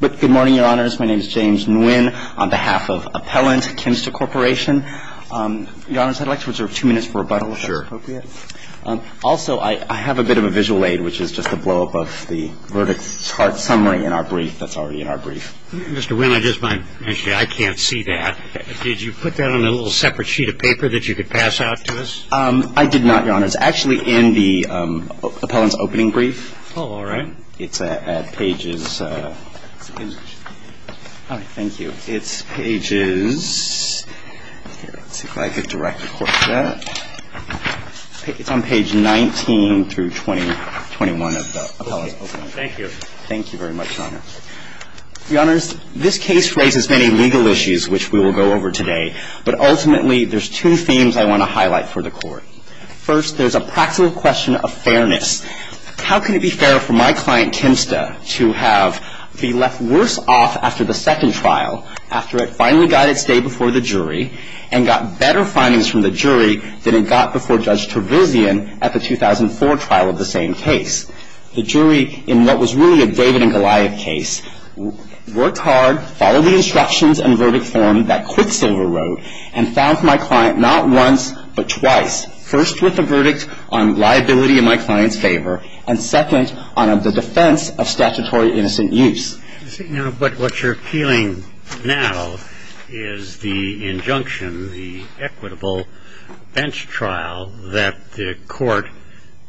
Mr. Nguyen, I'd like to reserve two minutes for rebuttal, if that's appropriate. Also, I have a bit of a visual aid, which is just a blowup of the verdict chart summary in our brief that's already in our brief. Mr. Nguyen, I just might mention I can't see that. Did you put that on a little separate sheet of paper that you could pass out to us? I did not, Your Honors. Actually, in the appellant's opening brief. Oh, all right. It's at pages – all right, thank you. It's pages – let's see if I can direct the Court to that. It's on page 19 through 21 of the appellant's opening brief. Thank you. Thank you very much, Your Honors. Your Honors, this case raises many legal issues, which we will go over today. But ultimately, there's two themes I want to highlight for the Court. First, there's a practical question of fairness. How can it be fair for my client, Timsta, to have been left worse off after the second trial, after it finally got its day before the jury and got better findings from the jury than it got before Judge Tervezian at the 2004 trial of the same case? The jury, in what was really a David and Goliath case, worked hard, followed the instructions and verdict form that Quicksilver wrote, and found for my client not once, but twice, first with the verdict on liability in my client's favor, and second on the defense of statutory innocent use. But what you're appealing now is the injunction, the equitable bench trial that the Court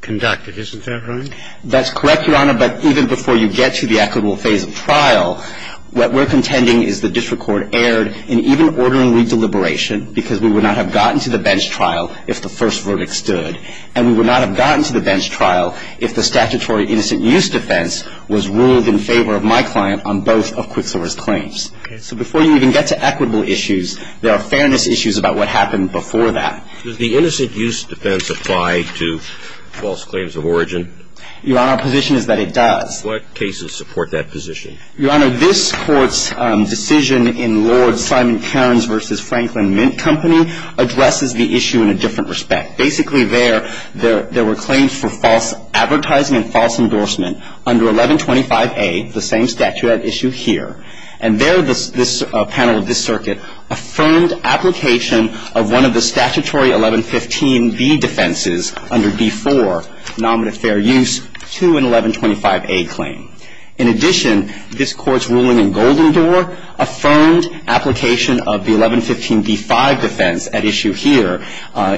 conducted. Isn't that right? That's correct, Your Honor. But even before you get to the equitable phase of trial, what we're contending is the district court erred in even ordering redeliberation because we would not have gotten to the bench trial if the first verdict stood, and we would not have gotten to the bench trial if the statutory innocent use defense was ruled in favor of my client on both of Quicksilver's claims. Okay. So before you even get to equitable issues, there are fairness issues about what happened before that. Does the innocent use defense apply to false claims of origin? Your Honor, our position is that it does. What cases support that position? Your Honor, this Court's decision in Lord Simon-Cairns v. Franklin Mint Company addresses the issue in a different respect. Basically there, there were claims for false advertising and false endorsement under 1125A, the same statuette issue here, and there this panel of this circuit affirmed application of one of the statutory 1115B defenses under D4, nominative fair use, to an 1125A claim. In addition, this Court's ruling in Golden Door affirmed application of the 1115B-5 defense at issue here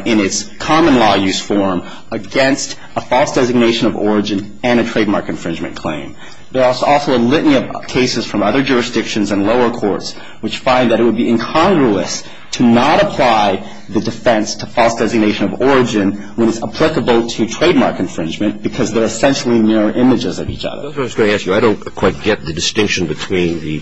in its common law use form against a false designation of origin and a trademark infringement claim. There are also a litany of cases from other jurisdictions and lower courts which find that it would be incongruous to not apply the defense to false designation of origin when it's applicable to trademark infringement because they're essentially mirror images of each other. That's what I was going to ask you. I don't quite get the distinction between the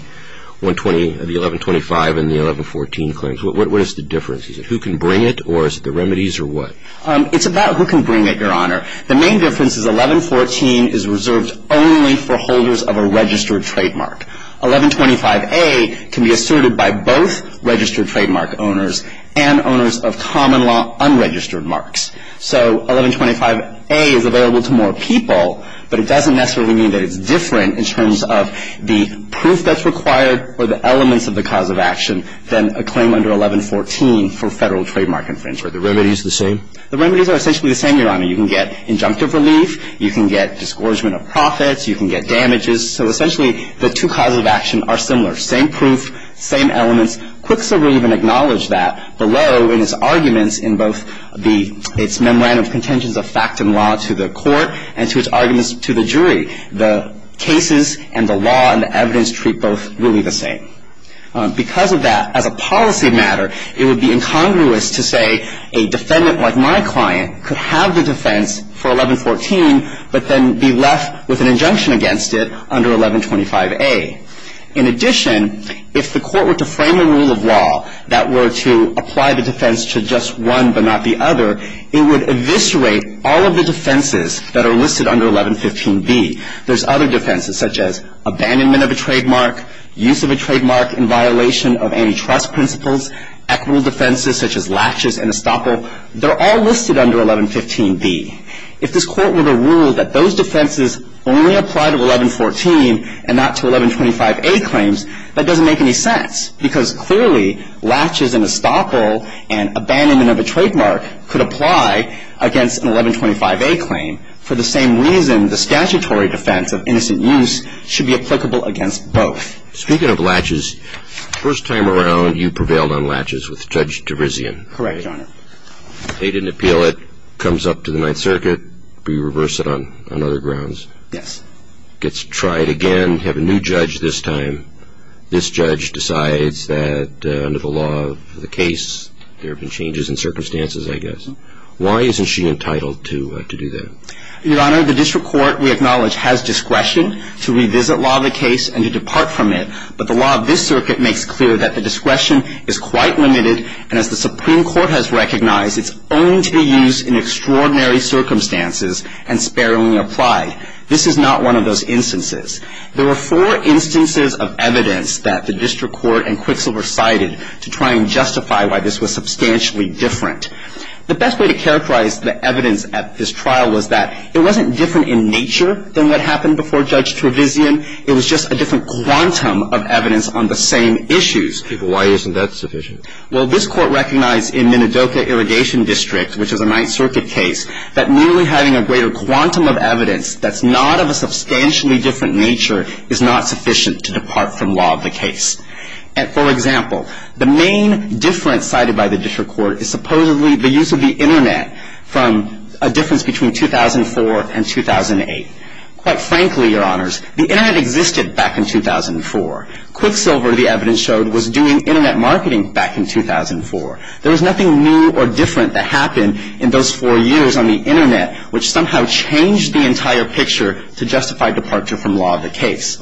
120, the 1125 and the 1114 claims. What is the difference? Is it who can bring it or is it the remedies or what? It's about who can bring it, Your Honor. The main difference is 1114 is reserved only for holders of a registered trademark. 1125A can be asserted by both registered trademark owners and owners of common law unregistered marks. So 1125A is available to more people, but it doesn't necessarily mean that it's different in terms of the proof that's required or the elements of the cause of action than a claim under 1114 for Federal trademark infringement. Are the remedies the same? The remedies are essentially the same, Your Honor. You can get injunctive relief. You can get disgorgement of profits. You can get damages. So essentially the two causes of action are similar. Same proof, same elements. Quicksilver even acknowledged that below in its arguments in both its memorandum of contentions of fact and law to the court and to its arguments to the jury. The cases and the law and the evidence treat both really the same. Because of that, as a policy matter, it would be incongruous to say a defendant like my client could have the defense for 1114 but then be left with an injunction against it under 1125A. In addition, if the court were to frame a rule of law that were to apply the defense to just one but not the other, it would eviscerate all of the defenses that are listed under 1115B. There's other defenses such as abandonment of a trademark, use of a trademark in violation of antitrust principles, equitable defenses such as laches and estoppel. They're all listed under 1115B. If this court were to rule that those defenses only apply to 1114 and not to 1125A claims, that doesn't make any sense because clearly laches and estoppel and abandonment of a trademark could apply against an 1125A claim for the same reason the statutory defense of innocent use should be applicable against both. Speaking of laches, first time around you prevailed on laches with Judge Terizian. Correct, Your Honor. They didn't appeal it. Comes up to the Ninth Circuit. We reverse it on other grounds. Yes. Gets tried again. Have a new judge this time. This judge decides that under the law of the case there have been changes in circumstances, I guess. Why isn't she entitled to do that? Your Honor, the district court, we acknowledge, has discretion to revisit law of the case and to depart from it, but the law of this circuit makes clear that the discretion is in extraordinary circumstances and sparingly applied. This is not one of those instances. There were four instances of evidence that the district court and Quixel recited to try and justify why this was substantially different. The best way to characterize the evidence at this trial was that it wasn't different in nature than what happened before Judge Terizian. It was just a different quantum of evidence on the same issues. Why isn't that sufficient? Well, this court recognized in Minidoka Irrigation District, which is a Ninth Circuit case, that merely having a greater quantum of evidence that's not of a substantially different nature is not sufficient to depart from law of the case. And, for example, the main difference cited by the district court is supposedly the use of the Internet from a difference between 2004 and 2008. Quite frankly, Your Honors, the Internet existed back in 2004. Quixelver, the evidence showed, was doing Internet marketing back in 2004. There was nothing new or different that happened in those four years on the Internet which somehow changed the entire picture to justify departure from law of the case.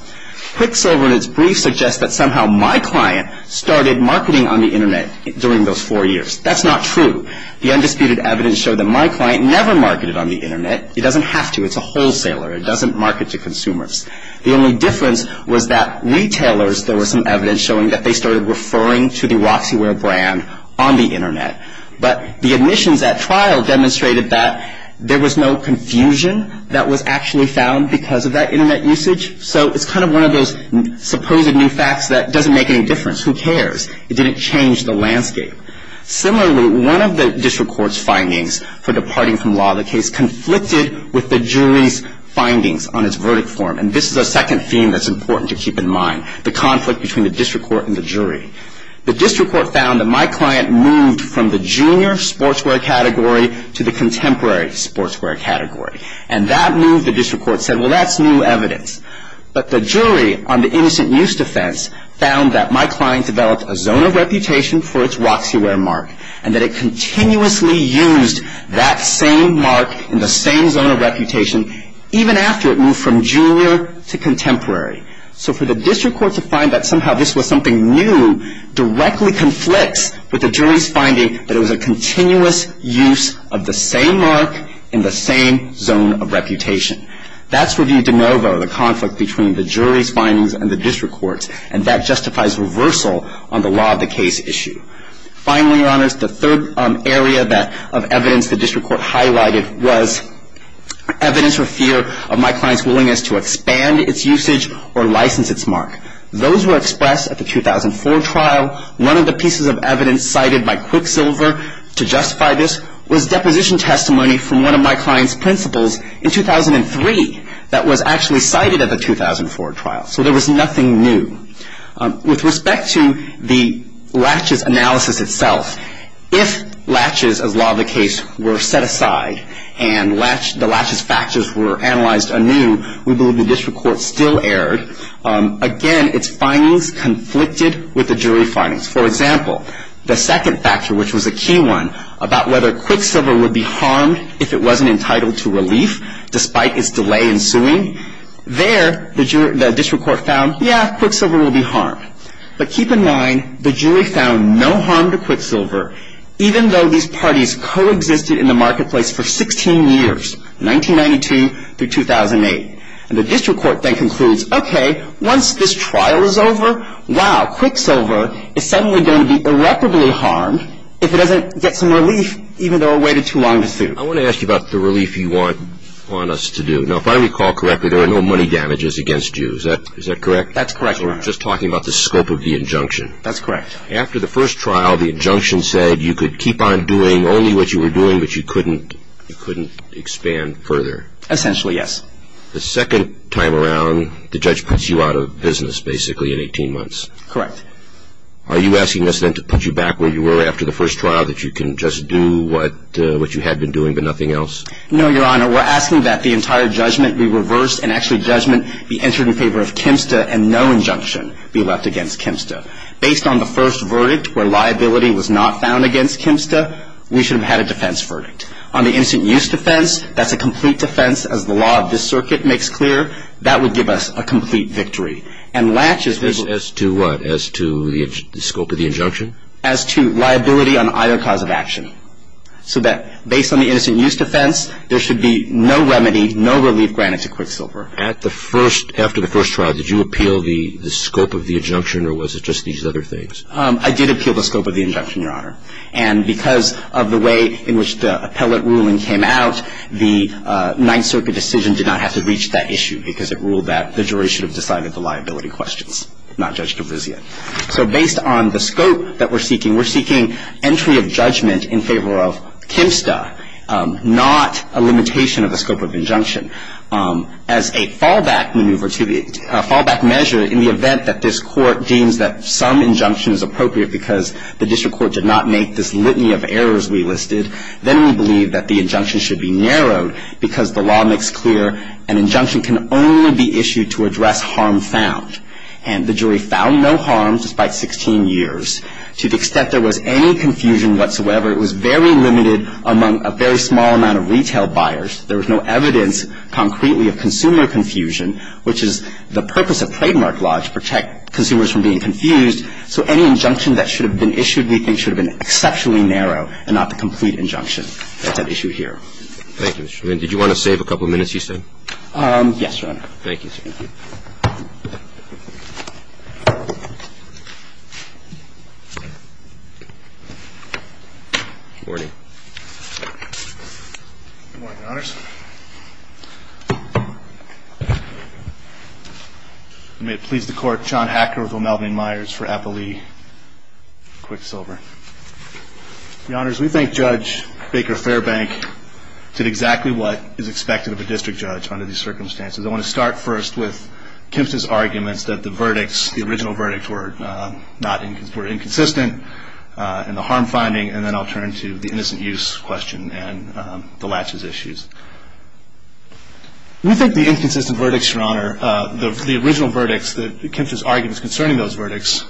Quixelver in its brief suggests that somehow my client started marketing on the Internet during those four years. That's not true. The undisputed evidence showed that my client never marketed on the Internet. It doesn't have to. It's a wholesaler. It doesn't market to consumers. The only difference was that retailers, there was some evidence showing that they started referring to the Roxyware brand on the Internet. But the admissions at trial demonstrated that there was no confusion that was actually found because of that Internet usage. So it's kind of one of those supposed new facts that doesn't make any difference. Who cares? It didn't change the landscape. Similarly, one of the district court's findings for departing from law of the case conflicted with the jury's findings on its verdict form. And this is a second theme that's important to keep in mind, the conflict between the district court and the jury. The district court found that my client moved from the junior sportswear category to the contemporary sportswear category. And that move, the district court said, well, that's new evidence. But the jury on the innocent use defense found that my client developed a zone of reputation for its Roxyware mark and that it continuously used that same mark in the same zone of reputation, even after it moved from junior to contemporary. So for the district court to find that somehow this was something new directly conflicts with the jury's finding that it was a continuous use of the same mark in the same zone of reputation. That's review de novo, the conflict between the jury's findings and the district court's. And that justifies reversal on the law of the case issue. Finally, Your Honors, the third area of evidence the district court highlighted was evidence for fear of my client's willingness to expand its usage or license its mark. Those were expressed at the 2004 trial. One of the pieces of evidence cited by Quicksilver to justify this was deposition testimony from one of my client's principals in 2003 that was actually cited at the 2004 trial. So there was nothing new. With respect to the Latches analysis itself, if Latches, as law of the case, were set aside and the Latches factors were analyzed anew, we believe the district court still erred. Again, its findings conflicted with the jury findings. For example, the second factor, which was a key one, about whether Quicksilver would be harmed if it wasn't entitled to relief despite its delay in suing. There, the district court found, yeah, Quicksilver will be harmed. But keep in mind, the jury found no harm to Quicksilver, even though these parties coexisted in the marketplace for 16 years, 1992 through 2008. And the district court then concludes, okay, once this trial is over, wow, Quicksilver is suddenly going to be irreparably harmed if it doesn't get some relief, even though it waited too long to sue. I want to ask you about the relief you want us to do. Now, if I recall correctly, there are no money damages against you. Is that correct? That's correct. We're just talking about the scope of the injunction. That's correct. After the first trial, the injunction said you could keep on doing only what you were doing, but you couldn't expand further. Essentially, yes. The second time around, the judge puts you out of business, basically, in 18 months. Correct. Are you asking us then to put you back where you were after the first trial, that you can just do what you had been doing but nothing else? No, Your Honor. We're asking that the entire judgment be reversed and actually judgment be entered in favor of Kempsta and no injunction be left against Kempsta. Based on the first verdict, where liability was not found against Kempsta, we should have had a defense verdict. On the instant-use defense, that's a complete defense, as the law of this circuit makes clear. That would give us a complete victory. As to what? As to the scope of the injunction? As to liability on either cause of action, so that based on the instant-use defense, there should be no remedy, no relief granted to Quicksilver. After the first trial, did you appeal the scope of the injunction or was it just these other things? I did appeal the scope of the injunction, Your Honor. And because of the way in which the appellate ruling came out, the Ninth Circuit decision did not have to reach that issue because it ruled that the jury should have decided the liability questions, not Judge Kavrizian. So based on the scope that we're seeking, we're seeking entry of judgment in favor of Kempsta, not a limitation of the scope of injunction. As a fallback maneuver to the fallback measure, in the event that this Court deems that some injunction is appropriate because the district court did not make this litany of errors we listed, then we believe that the injunction should be narrowed because the law makes clear that an injunction can only be issued to address harm found. And the jury found no harm despite 16 years. To the extent there was any confusion whatsoever, it was very limited among a very small amount of retail buyers. There was no evidence concretely of consumer confusion, which is the purpose of trademark law is to protect consumers from being confused. So any injunction that should have been issued we think should have been exceptionally narrow and not the complete injunction at that issue here. Thank you, Mr. Lin. Did you want to save a couple of minutes, you said? Yes, Your Honor. Thank you, sir. Good morning. Good morning, Your Honors. May it please the Court, John Hacker with O'Melvyn Myers for Applee Quicksilver. Your Honors, we think Judge Baker Fairbank did exactly what is expected of a district judge under these circumstances. I want to start first with Kemp's arguments that the verdicts, the original verdicts were inconsistent in the harm finding, and then I'll turn to the innocent use question and the latches issues. We think the inconsistent verdicts, Your Honor, the original verdicts that Kemp's arguments concerning those verdicts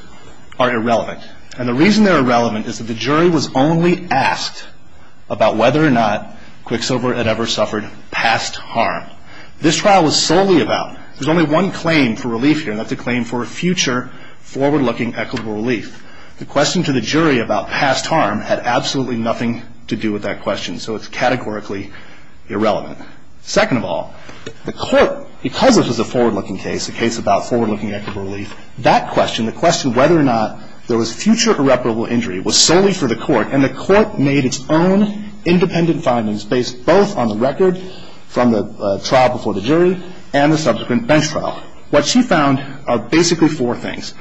are irrelevant. And the reason they're irrelevant is that the jury was only asked about whether or not Quicksilver had ever suffered past harm. This trial was solely about, there's only one claim for relief here, and that's a claim for a future forward-looking equitable relief. The question to the jury about past harm had absolutely nothing to do with that question, so it's categorically irrelevant. Second of all, the Court, because this was a forward-looking case, a case about forward-looking equitable relief, that question, the question whether or not there was future irreparable injury was solely for the Court, and the Court made its own independent findings based both on the record from the trial before the jury and the subsequent bench trial. What she found are basically four things.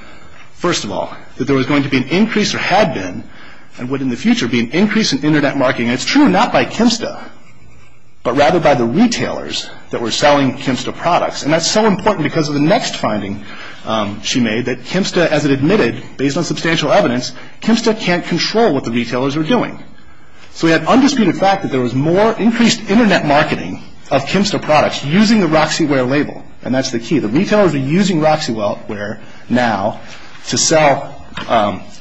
First of all, that there was going to be an increase, or had been, and would in the future be an increase in Internet marketing. And it's true, not by Kemp's stuff, but rather by the retailers that were selling Kemp's stuff products, and that's so important because of the next finding she made, that Kemp's stuff, as it admitted, based on substantial evidence, Kemp's stuff can't control what the retailers are doing. So we have undisputed fact that there was more increased Internet marketing of Kemp's stuff products using the Roxyware label, and that's the key. The retailers are using Roxyware now to sell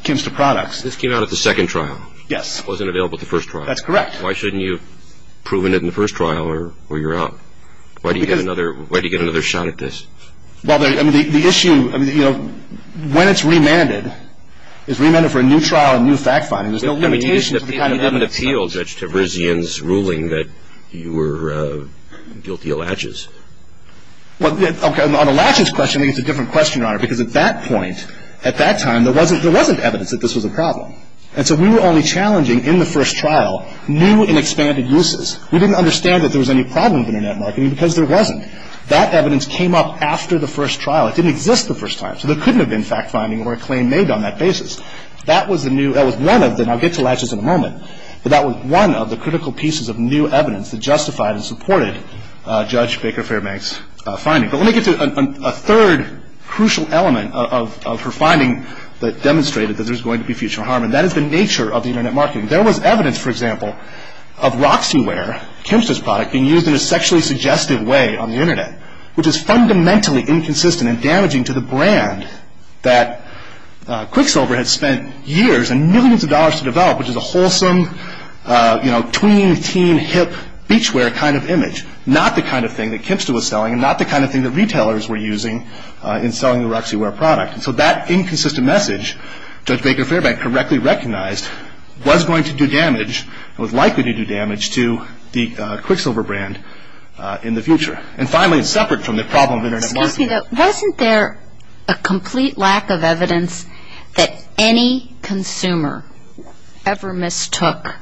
Kemp's stuff products. This came out at the second trial. Yes. It wasn't available at the first trial. That's correct. Why shouldn't you have proven it in the first trial or you're out? Why do you get another shot at this? Well, the issue, when it's remanded, it's remanded for a new trial and new fact finding. There's no limitation to the kind of evidence. It doesn't appeal, Judge Terizian's ruling, that you were guilty of latches. Well, on the latches question, I think it's a different question, Your Honor, because at that point, at that time, there wasn't evidence that this was a problem. And so we were only challenging, in the first trial, new and expanded uses. We didn't understand that there was any problem with Internet marketing because there wasn't. That evidence came up after the first trial. It didn't exist the first time. So there couldn't have been fact finding or a claim made on that basis. That was the new, that was one of the, and I'll get to latches in a moment, but that was one of the critical pieces of new evidence that justified and supported Judge Baker Fairbank's finding. But let me get to a third crucial element of her finding that demonstrated that there's going to be future harm, and that is the nature of the Internet marketing. There was evidence, for example, of Roxyware, Kimster's product, being used in a sexually suggestive way on the Internet, which is fundamentally inconsistent and damaging to the brand that Quicksilver had spent years and millions of dollars to develop, which is a wholesome, you know, tween, teen, hip, beachwear kind of image, not the kind of thing that Kimster was selling and not the kind of thing that retailers were using in selling the Roxyware product. And so that inconsistent message, Judge Baker Fairbank correctly recognized, was going to do damage and was likely to do damage to the Quicksilver brand in the future. And finally, separate from the problem of Internet marketing. Excuse me. Wasn't there a complete lack of evidence that any consumer ever mistook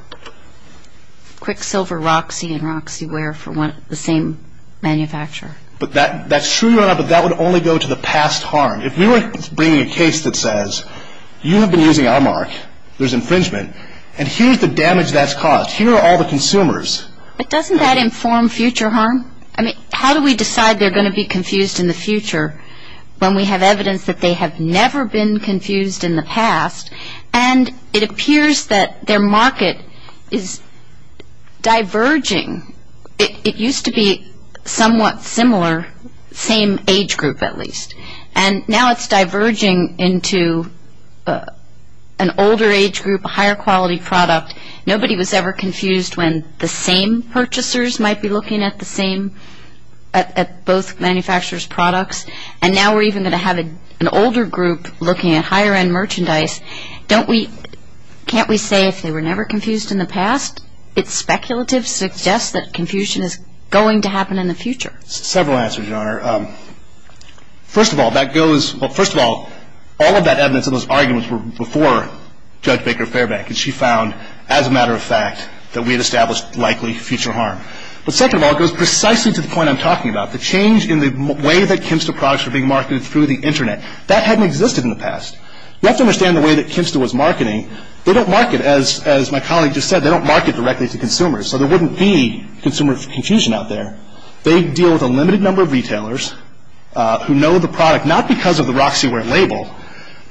Quicksilver Roxy and Roxyware for the same manufacturer? But that's true, Your Honor, but that would only go to the past harm. If we were bringing a case that says you have been using our mark, there's infringement, and here's the damage that's caused. Here are all the consumers. But doesn't that inform future harm? I mean, how do we decide they're going to be confused in the future when we have evidence that they have never been confused in the past and it appears that their market is diverging. It used to be somewhat similar, same age group at least, and now it's diverging into an older age group, a higher quality product. Nobody was ever confused when the same purchasers might be looking at the same, at both manufacturers' products. And now we're even going to have an older group looking at higher end merchandise. Can't we say if they were never confused in the past, it's speculative suggests that confusion is going to happen in the future? Several answers, Your Honor. First of all, that goes, well, first of all, all of that evidence and those arguments were before Judge Baker-Fairbank, and she found, as a matter of fact, that we had established likely future harm. But second of all, it goes precisely to the point I'm talking about. The change in the way that Kimsta products were being marketed through the Internet, that hadn't existed in the past. You have to understand the way that Kimsta was marketing. They don't market, as my colleague just said, they don't market directly to consumers, so there wouldn't be consumer confusion out there. They deal with a limited number of retailers who know the product, not because of the Roxyware label,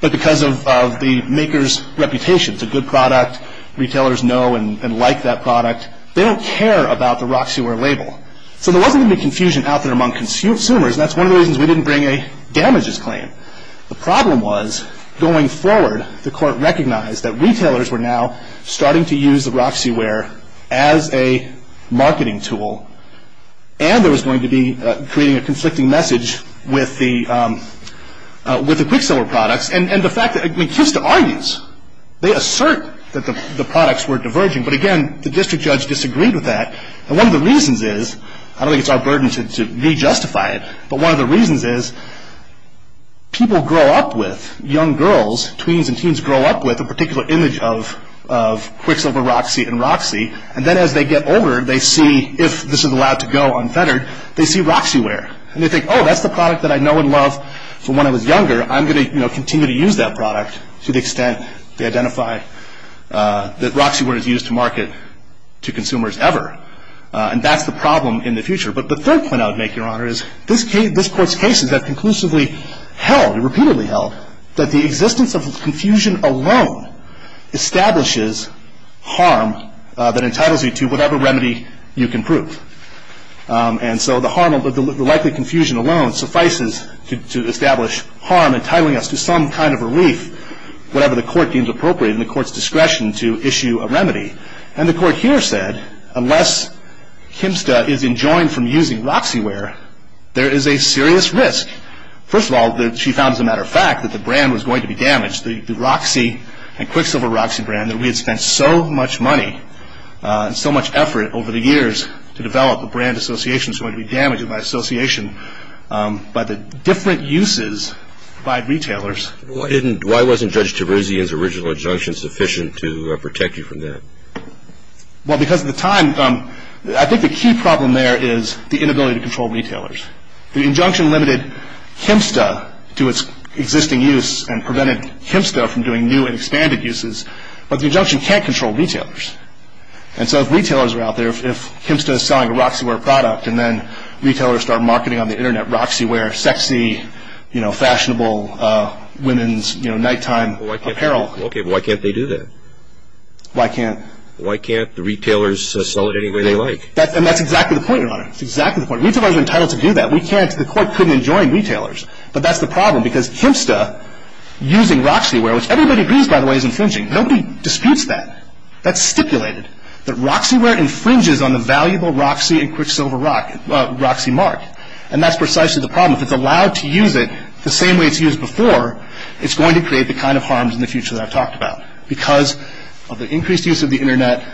but because of the maker's reputation. It's a good product. Retailers know and like that product. They don't care about the Roxyware label. So there wasn't going to be confusion out there among consumers, and that's one of the reasons we didn't bring a damages claim. The problem was, going forward, the court recognized that retailers were now starting to use the Roxyware as a marketing tool and there was going to be creating a conflicting message with the Quicksilver products. And the fact that, I mean, Kimsta argues, they assert that the products were diverging, but again, the district judge disagreed with that. And one of the reasons is, I don't think it's our burden to re-justify it, but one of the reasons is people grow up with, young girls, tweens and teens grow up with, a particular image of Quicksilver Roxy and Roxy, and then as they get older, they see, if this is allowed to go unfettered, they see Roxyware. And they think, oh, that's the product that I know and love from when I was younger. I'm going to continue to use that product to the extent they identify that Roxyware is used to market to consumers ever. And that's the problem in the future. But the third point I would make, Your Honor, is this court's cases have conclusively held, repeatedly held, that the existence of confusion alone establishes harm that entitles you to whatever remedy you can prove. And so the likely confusion alone suffices to establish harm entitling us to some kind of relief, whatever the court deems appropriate in the court's discretion to issue a remedy. And the court here said, unless Kimsta is enjoined from using Roxyware, there is a serious risk. First of all, she found, as a matter of fact, that the brand was going to be damaged, the Roxy and Quicksilver Roxy brand, that we had spent so much money and so much effort over the years to develop a brand association that's going to be damaged in my association by the different uses by retailers. Why wasn't Judge Teruzian's original injunction sufficient to protect you from that? Well, because at the time, I think the key problem there is the inability to control retailers. The injunction limited Kimsta to its existing use and prevented Kimsta from doing new and expanded uses. But the injunction can't control retailers. And so if retailers are out there, if Kimsta is selling a Roxyware product and then retailers start marketing on the Internet Roxyware, sexy, you know, fashionable women's, you know, nighttime apparel. Okay, but why can't they do that? Why can't? Why can't the retailers sell it any way they like? And that's exactly the point, Your Honor. That's exactly the point. Retailers are entitled to do that. We can't. The court couldn't enjoin retailers. But that's the problem, because Kimsta using Roxyware, which everybody agrees, by the way, is infringing. Nobody disputes that. That's stipulated, that Roxyware infringes on the valuable Roxy and Quicksilver Roxymark. And that's precisely the problem. If it's allowed to use it the same way it's used before, it's going to create the kind of harms in the future that I've talked about. Because of the increased use of the Internet,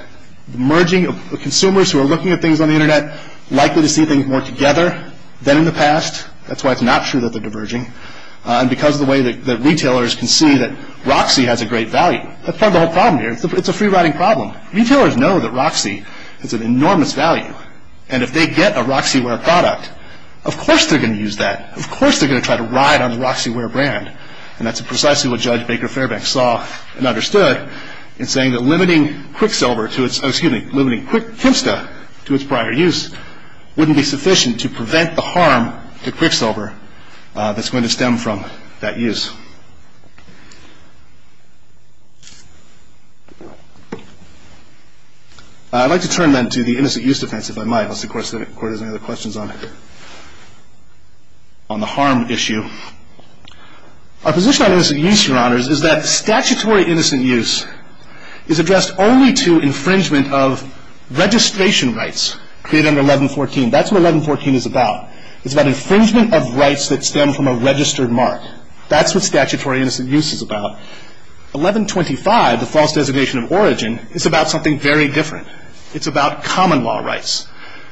merging of consumers who are looking at things on the Internet, likely to see things more together than in the past. That's why it's not true that they're diverging. And because of the way that retailers can see that Roxy has a great value. That's part of the whole problem here. It's a free-riding problem. Retailers know that Roxy has an enormous value. And if they get a Roxyware product, of course they're going to use that. Of course they're going to try to ride on the Roxyware brand. And that's precisely what Judge Baker Fairbank saw and understood in saying that limiting Quicksilver to its – excuse me, limiting Quicksilver to its prior use wouldn't be sufficient to prevent the harm to Quicksilver that's going to stem from that use. I'd like to turn, then, to the innocent use defense, if I might. Unless the Court has any other questions on the harm issue. Our position on innocent use, Your Honors, is that statutory innocent use is addressed only to infringement of registration rights created under 1114. That's what 1114 is about. It's about infringement of rights that stem from a registered mark. That's what statutory innocent use is about. 1125, the false designation of origin, is about something very different. It's about common law rights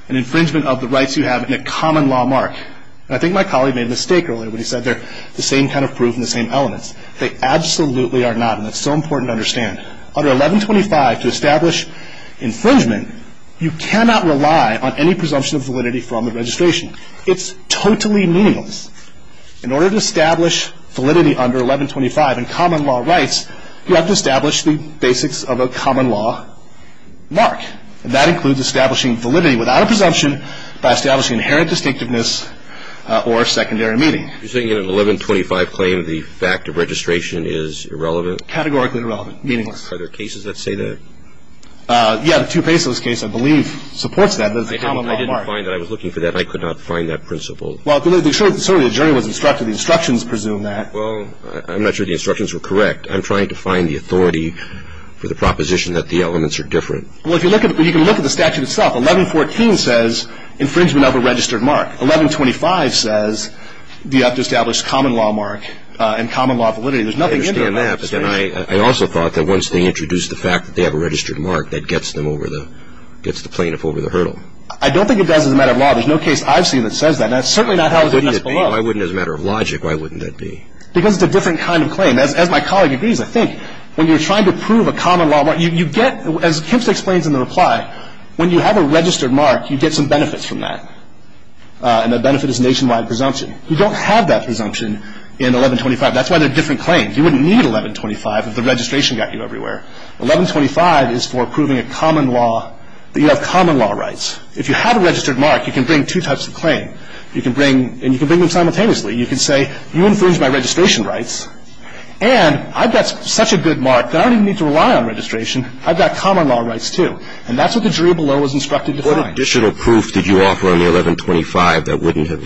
and infringement of the rights you have in a common law mark. And I think my colleague made a mistake earlier when he said they're the same kind of proof and the same elements. They absolutely are not, and that's so important to understand. Under 1125, to establish infringement, you cannot rely on any presumption of validity from the registration. It's totally meaningless. In order to establish validity under 1125 in common law rights, you have to establish the basics of a common law mark. And that includes establishing validity without a presumption by establishing inherent distinctiveness or secondary meaning. You're saying in an 1125 claim the fact of registration is irrelevant? Categorically irrelevant. Meaningless. Are there cases that say that? Yeah, the Tupesos case, I believe, supports that. I didn't find that. I was looking for that, and I could not find that principle. Well, certainly the jury was instructed. The instructions presume that. Well, I'm not sure the instructions were correct. I'm trying to find the authority for the proposition that the elements are different. Well, if you look at it, you can look at the statute itself. 1114 says infringement of a registered mark. 1125 says you have to establish common law mark and common law validity. There's nothing in there about validity. I understand that. But then I also thought that once they introduced the fact that they have a registered mark, that gets them over the – gets the plaintiff over the hurdle. I don't think it does as a matter of law. There's no case I've seen that says that. And that's certainly not how the defense fell off. Why wouldn't it be? As a matter of logic, why wouldn't that be? Because it's a different kind of claim. As my colleague agrees, I think when you're trying to prove a common law mark, you get – as Kemp explains in the reply, when you have a registered mark, you get some benefits from that. And that benefit is nationwide presumption. You don't have that presumption in 1125. That's why they're different claims. You wouldn't need 1125 if the registration got you everywhere. 1125 is for proving a common law – that you have common law rights. If you have a registered mark, you can bring two types of claim. You can bring – and you can bring them simultaneously. You can say, you infringed my registration rights, and I've got such a good mark that I don't even need to rely on registration. I've got common law rights, too. And that's what the jury below was instructed to find. What additional proof did you offer on the 1125 that wouldn't have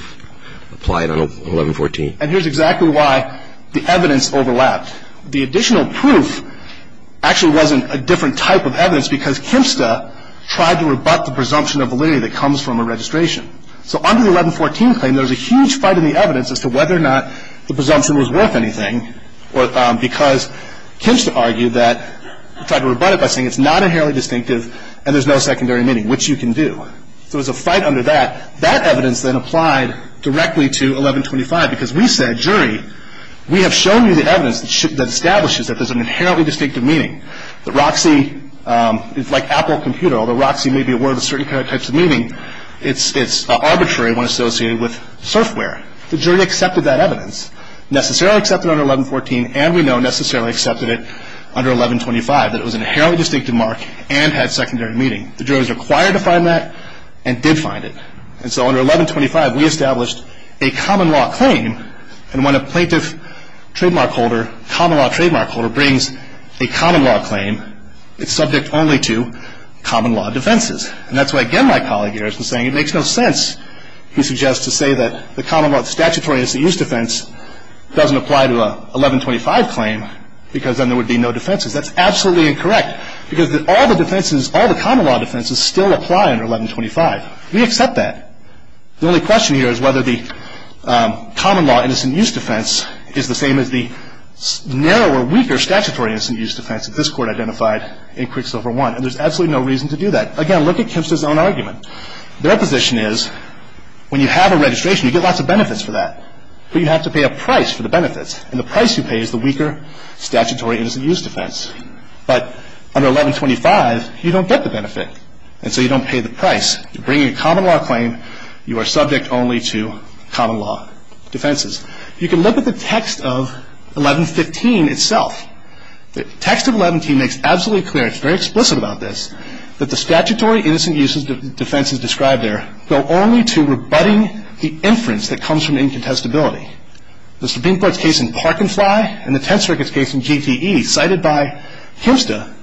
applied on 1114? And here's exactly why the evidence overlapped. The additional proof actually wasn't a different type of evidence because Kempsta tried to rebut the presumption of validity that comes from a registration. So under the 1114 claim, there's a huge fight in the evidence as to whether or not the presumption was worth anything because Kempsta argued that – tried to rebut it by saying it's not inherently distinctive and there's no secondary meaning, which you can do. So there's a fight under that. That evidence then applied directly to 1125 because we said, jury, we have shown you the evidence that establishes that there's an inherently distinctive meaning. The Roxy is like Apple computer. Although Roxy may be a word with certain types of meaning, it's arbitrary when associated with software. The jury accepted that evidence, necessarily accepted it under 1114 and we know necessarily accepted it under 1125, that it was an inherently distinctive mark and had secondary meaning. The jury was required to find that and did find it. And so under 1125, we established a common law claim and when a plaintiff trademark holder, common law trademark holder, brings a common law claim, it's subject only to common law defenses. And that's why, again, my colleague here has been saying it makes no sense, he suggests, to say that the common law statutory innocent use defense doesn't apply to a 1125 claim because then there would be no defenses. That's absolutely incorrect because all the defenses, all the common law defenses still apply under 1125. We accept that. The only question here is whether the common law innocent use defense is the same as the narrower, weaker statutory innocent use defense that this Court identified in Quicksilver I. And there's absolutely no reason to do that. Again, look at Kempster's own argument. Their position is when you have a registration, you get lots of benefits for that. But you have to pay a price for the benefits. And the price you pay is the weaker statutory innocent use defense. But under 1125, you don't get the benefit. And so you don't pay the price. You're bringing a common law claim, you are subject only to common law defenses. You can look at the text of 1115 itself. The text of 1115 makes absolutely clear, it's very explicit about this, that the statutory innocent use defenses described there go only to rebutting the inference that comes from incontestability. The subpoena court's case in Park and Fly and the Tenth Circuit's case in GTE cited by Kempster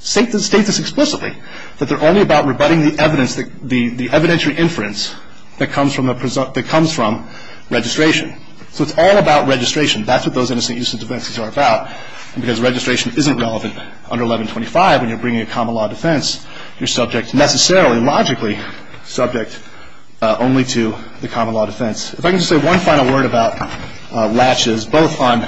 state this explicitly, that they're only about rebutting the evidence, the evidentiary inference that comes from registration. So it's all about registration. That's what those innocent use defenses are about. Because registration isn't relevant under 1125 when you're bringing a common law defense. You're subject necessarily, logically subject only to the common law defense. If I can just say one final word about Latches, both on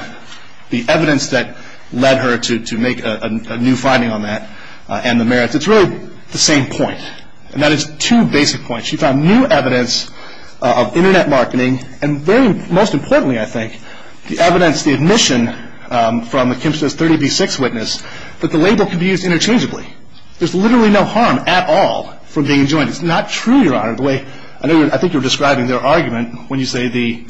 the evidence that led her to make a new finding on that and the merits. It's really the same point. And that is two basic points. She found new evidence of Internet marketing and very most importantly, I think, the evidence, the admission from Kempster's 30B6 witness that the label can be used interchangeably. There's literally no harm at all from being enjoined. It's not true, Your Honor, the way I think you're describing their argument when you say the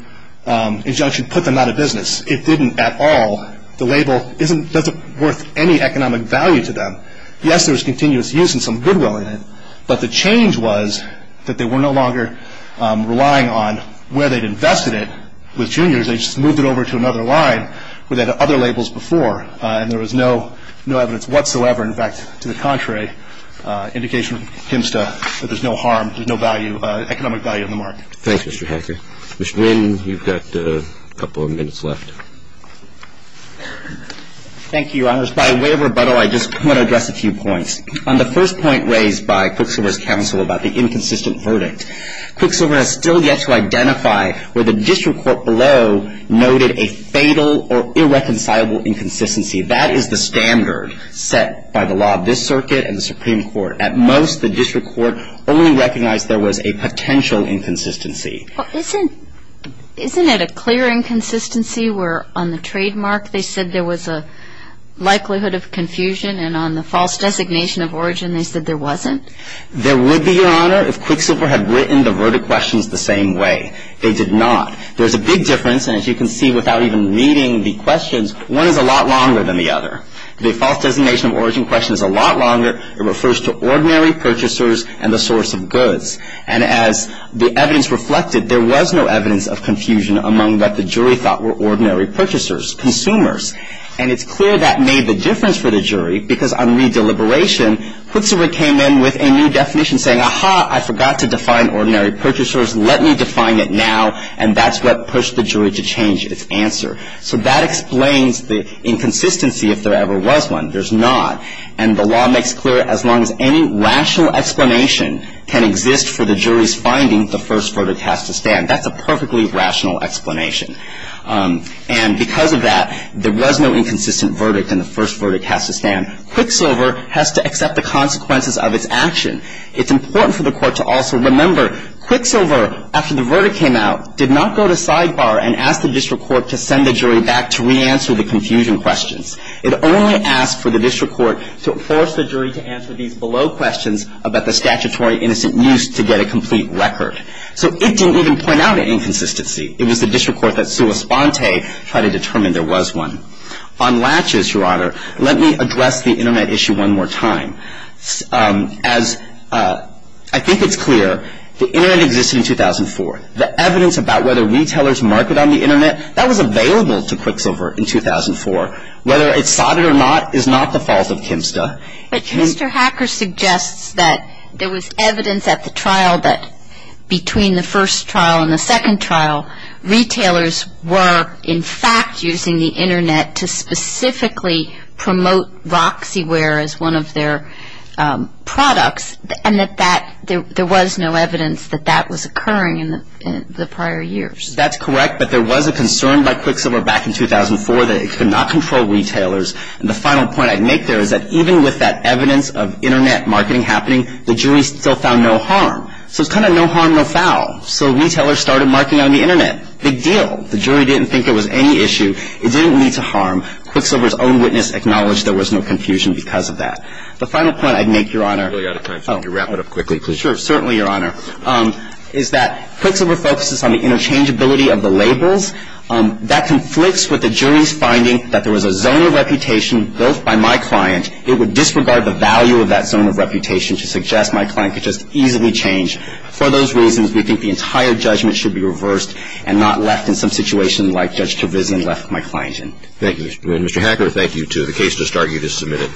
injunction put them out of business. It didn't at all. The label isn't worth any economic value to them. Yes, there was continuous use and some goodwill in it, but the change was that they were no longer relying on where they'd invested it with juniors. They just moved it over to another line where they had other labels before and there was no evidence whatsoever. In fact, to the contrary, indication from Kempster that there's no harm, there's no value, economic value on the mark. Thanks, Mr. Hacker. Mr. Nguyen, you've got a couple of minutes left. Thank you, Your Honors. By way of rebuttal, I just want to address a few points. On the first point raised by Quicksilver's counsel about the inconsistent verdict, that is the standard set by the law of this circuit and the Supreme Court. At most, the district court only recognized there was a potential inconsistency. Isn't it a clear inconsistency where on the trademark they said there was a likelihood of confusion and on the false designation of origin they said there wasn't? There would be, Your Honor, if Quicksilver had written the verdict questions the same way. They did not. There's a big difference, and as you can see without even reading the questions, one is a lot longer than the other. The false designation of origin question is a lot longer. It refers to ordinary purchasers and the source of goods. And as the evidence reflected, there was no evidence of confusion among what the jury thought were ordinary purchasers, consumers. And it's clear that made the difference for the jury because on re-deliberation, Quicksilver came in with a new definition saying, Aha, I forgot to define ordinary purchasers. Let me define it now. And that's what pushed the jury to change its answer. So that explains the inconsistency if there ever was one. There's not. And the law makes clear as long as any rational explanation can exist for the jury's finding, the first verdict has to stand. That's a perfectly rational explanation. And because of that, there was no inconsistent verdict, and the first verdict has to stand. Quicksilver has to accept the consequences of its action. It's important for the court to also remember, Quicksilver, after the verdict came out, did not go to sidebar and ask the district court to send the jury back to re-answer the confusion questions. It only asked for the district court to force the jury to answer these below questions about the statutory innocent use to get a complete record. So it didn't even point out any inconsistency. It was the district court that sua sponte tried to determine there was one. On latches, Your Honor, let me address the Internet issue one more time. As I think it's clear, the Internet existed in 2004. The evidence about whether retailers marketed on the Internet, that was available to Quicksilver in 2004. Whether it's sodded or not is not the fault of KMSTA. But Mr. Hacker suggests that there was evidence at the trial that between the first trial and the second trial, retailers were, in fact, using the Internet to specifically promote Roxyware as one of their products, and that there was no evidence that that was occurring in the prior years. That's correct, but there was a concern by Quicksilver back in 2004 that it could not control retailers. And the final point I'd make there is that even with that evidence of Internet marketing happening, the jury still found no harm. So it's kind of no harm, no foul. So retailers started marketing on the Internet. Big deal. The jury didn't think it was any issue. It didn't lead to harm. Quicksilver's own witness acknowledged there was no confusion because of that. The final point I'd make, Your Honor. I'm really out of time, so if you could wrap it up quickly, please. Sure. Certainly, Your Honor, is that Quicksilver focuses on the interchangeability of the labels. That conflicts with the jury's finding that there was a zone of reputation built by my client. It would disregard the value of that zone of reputation to suggest my client could just easily change. For those reasons, we think the entire judgment should be reversed and not left in some situation like Judge Trevisan left my client in. Thank you, Mr. Boone. Mr. Hacker, thank you, too. The case just argued is submitted.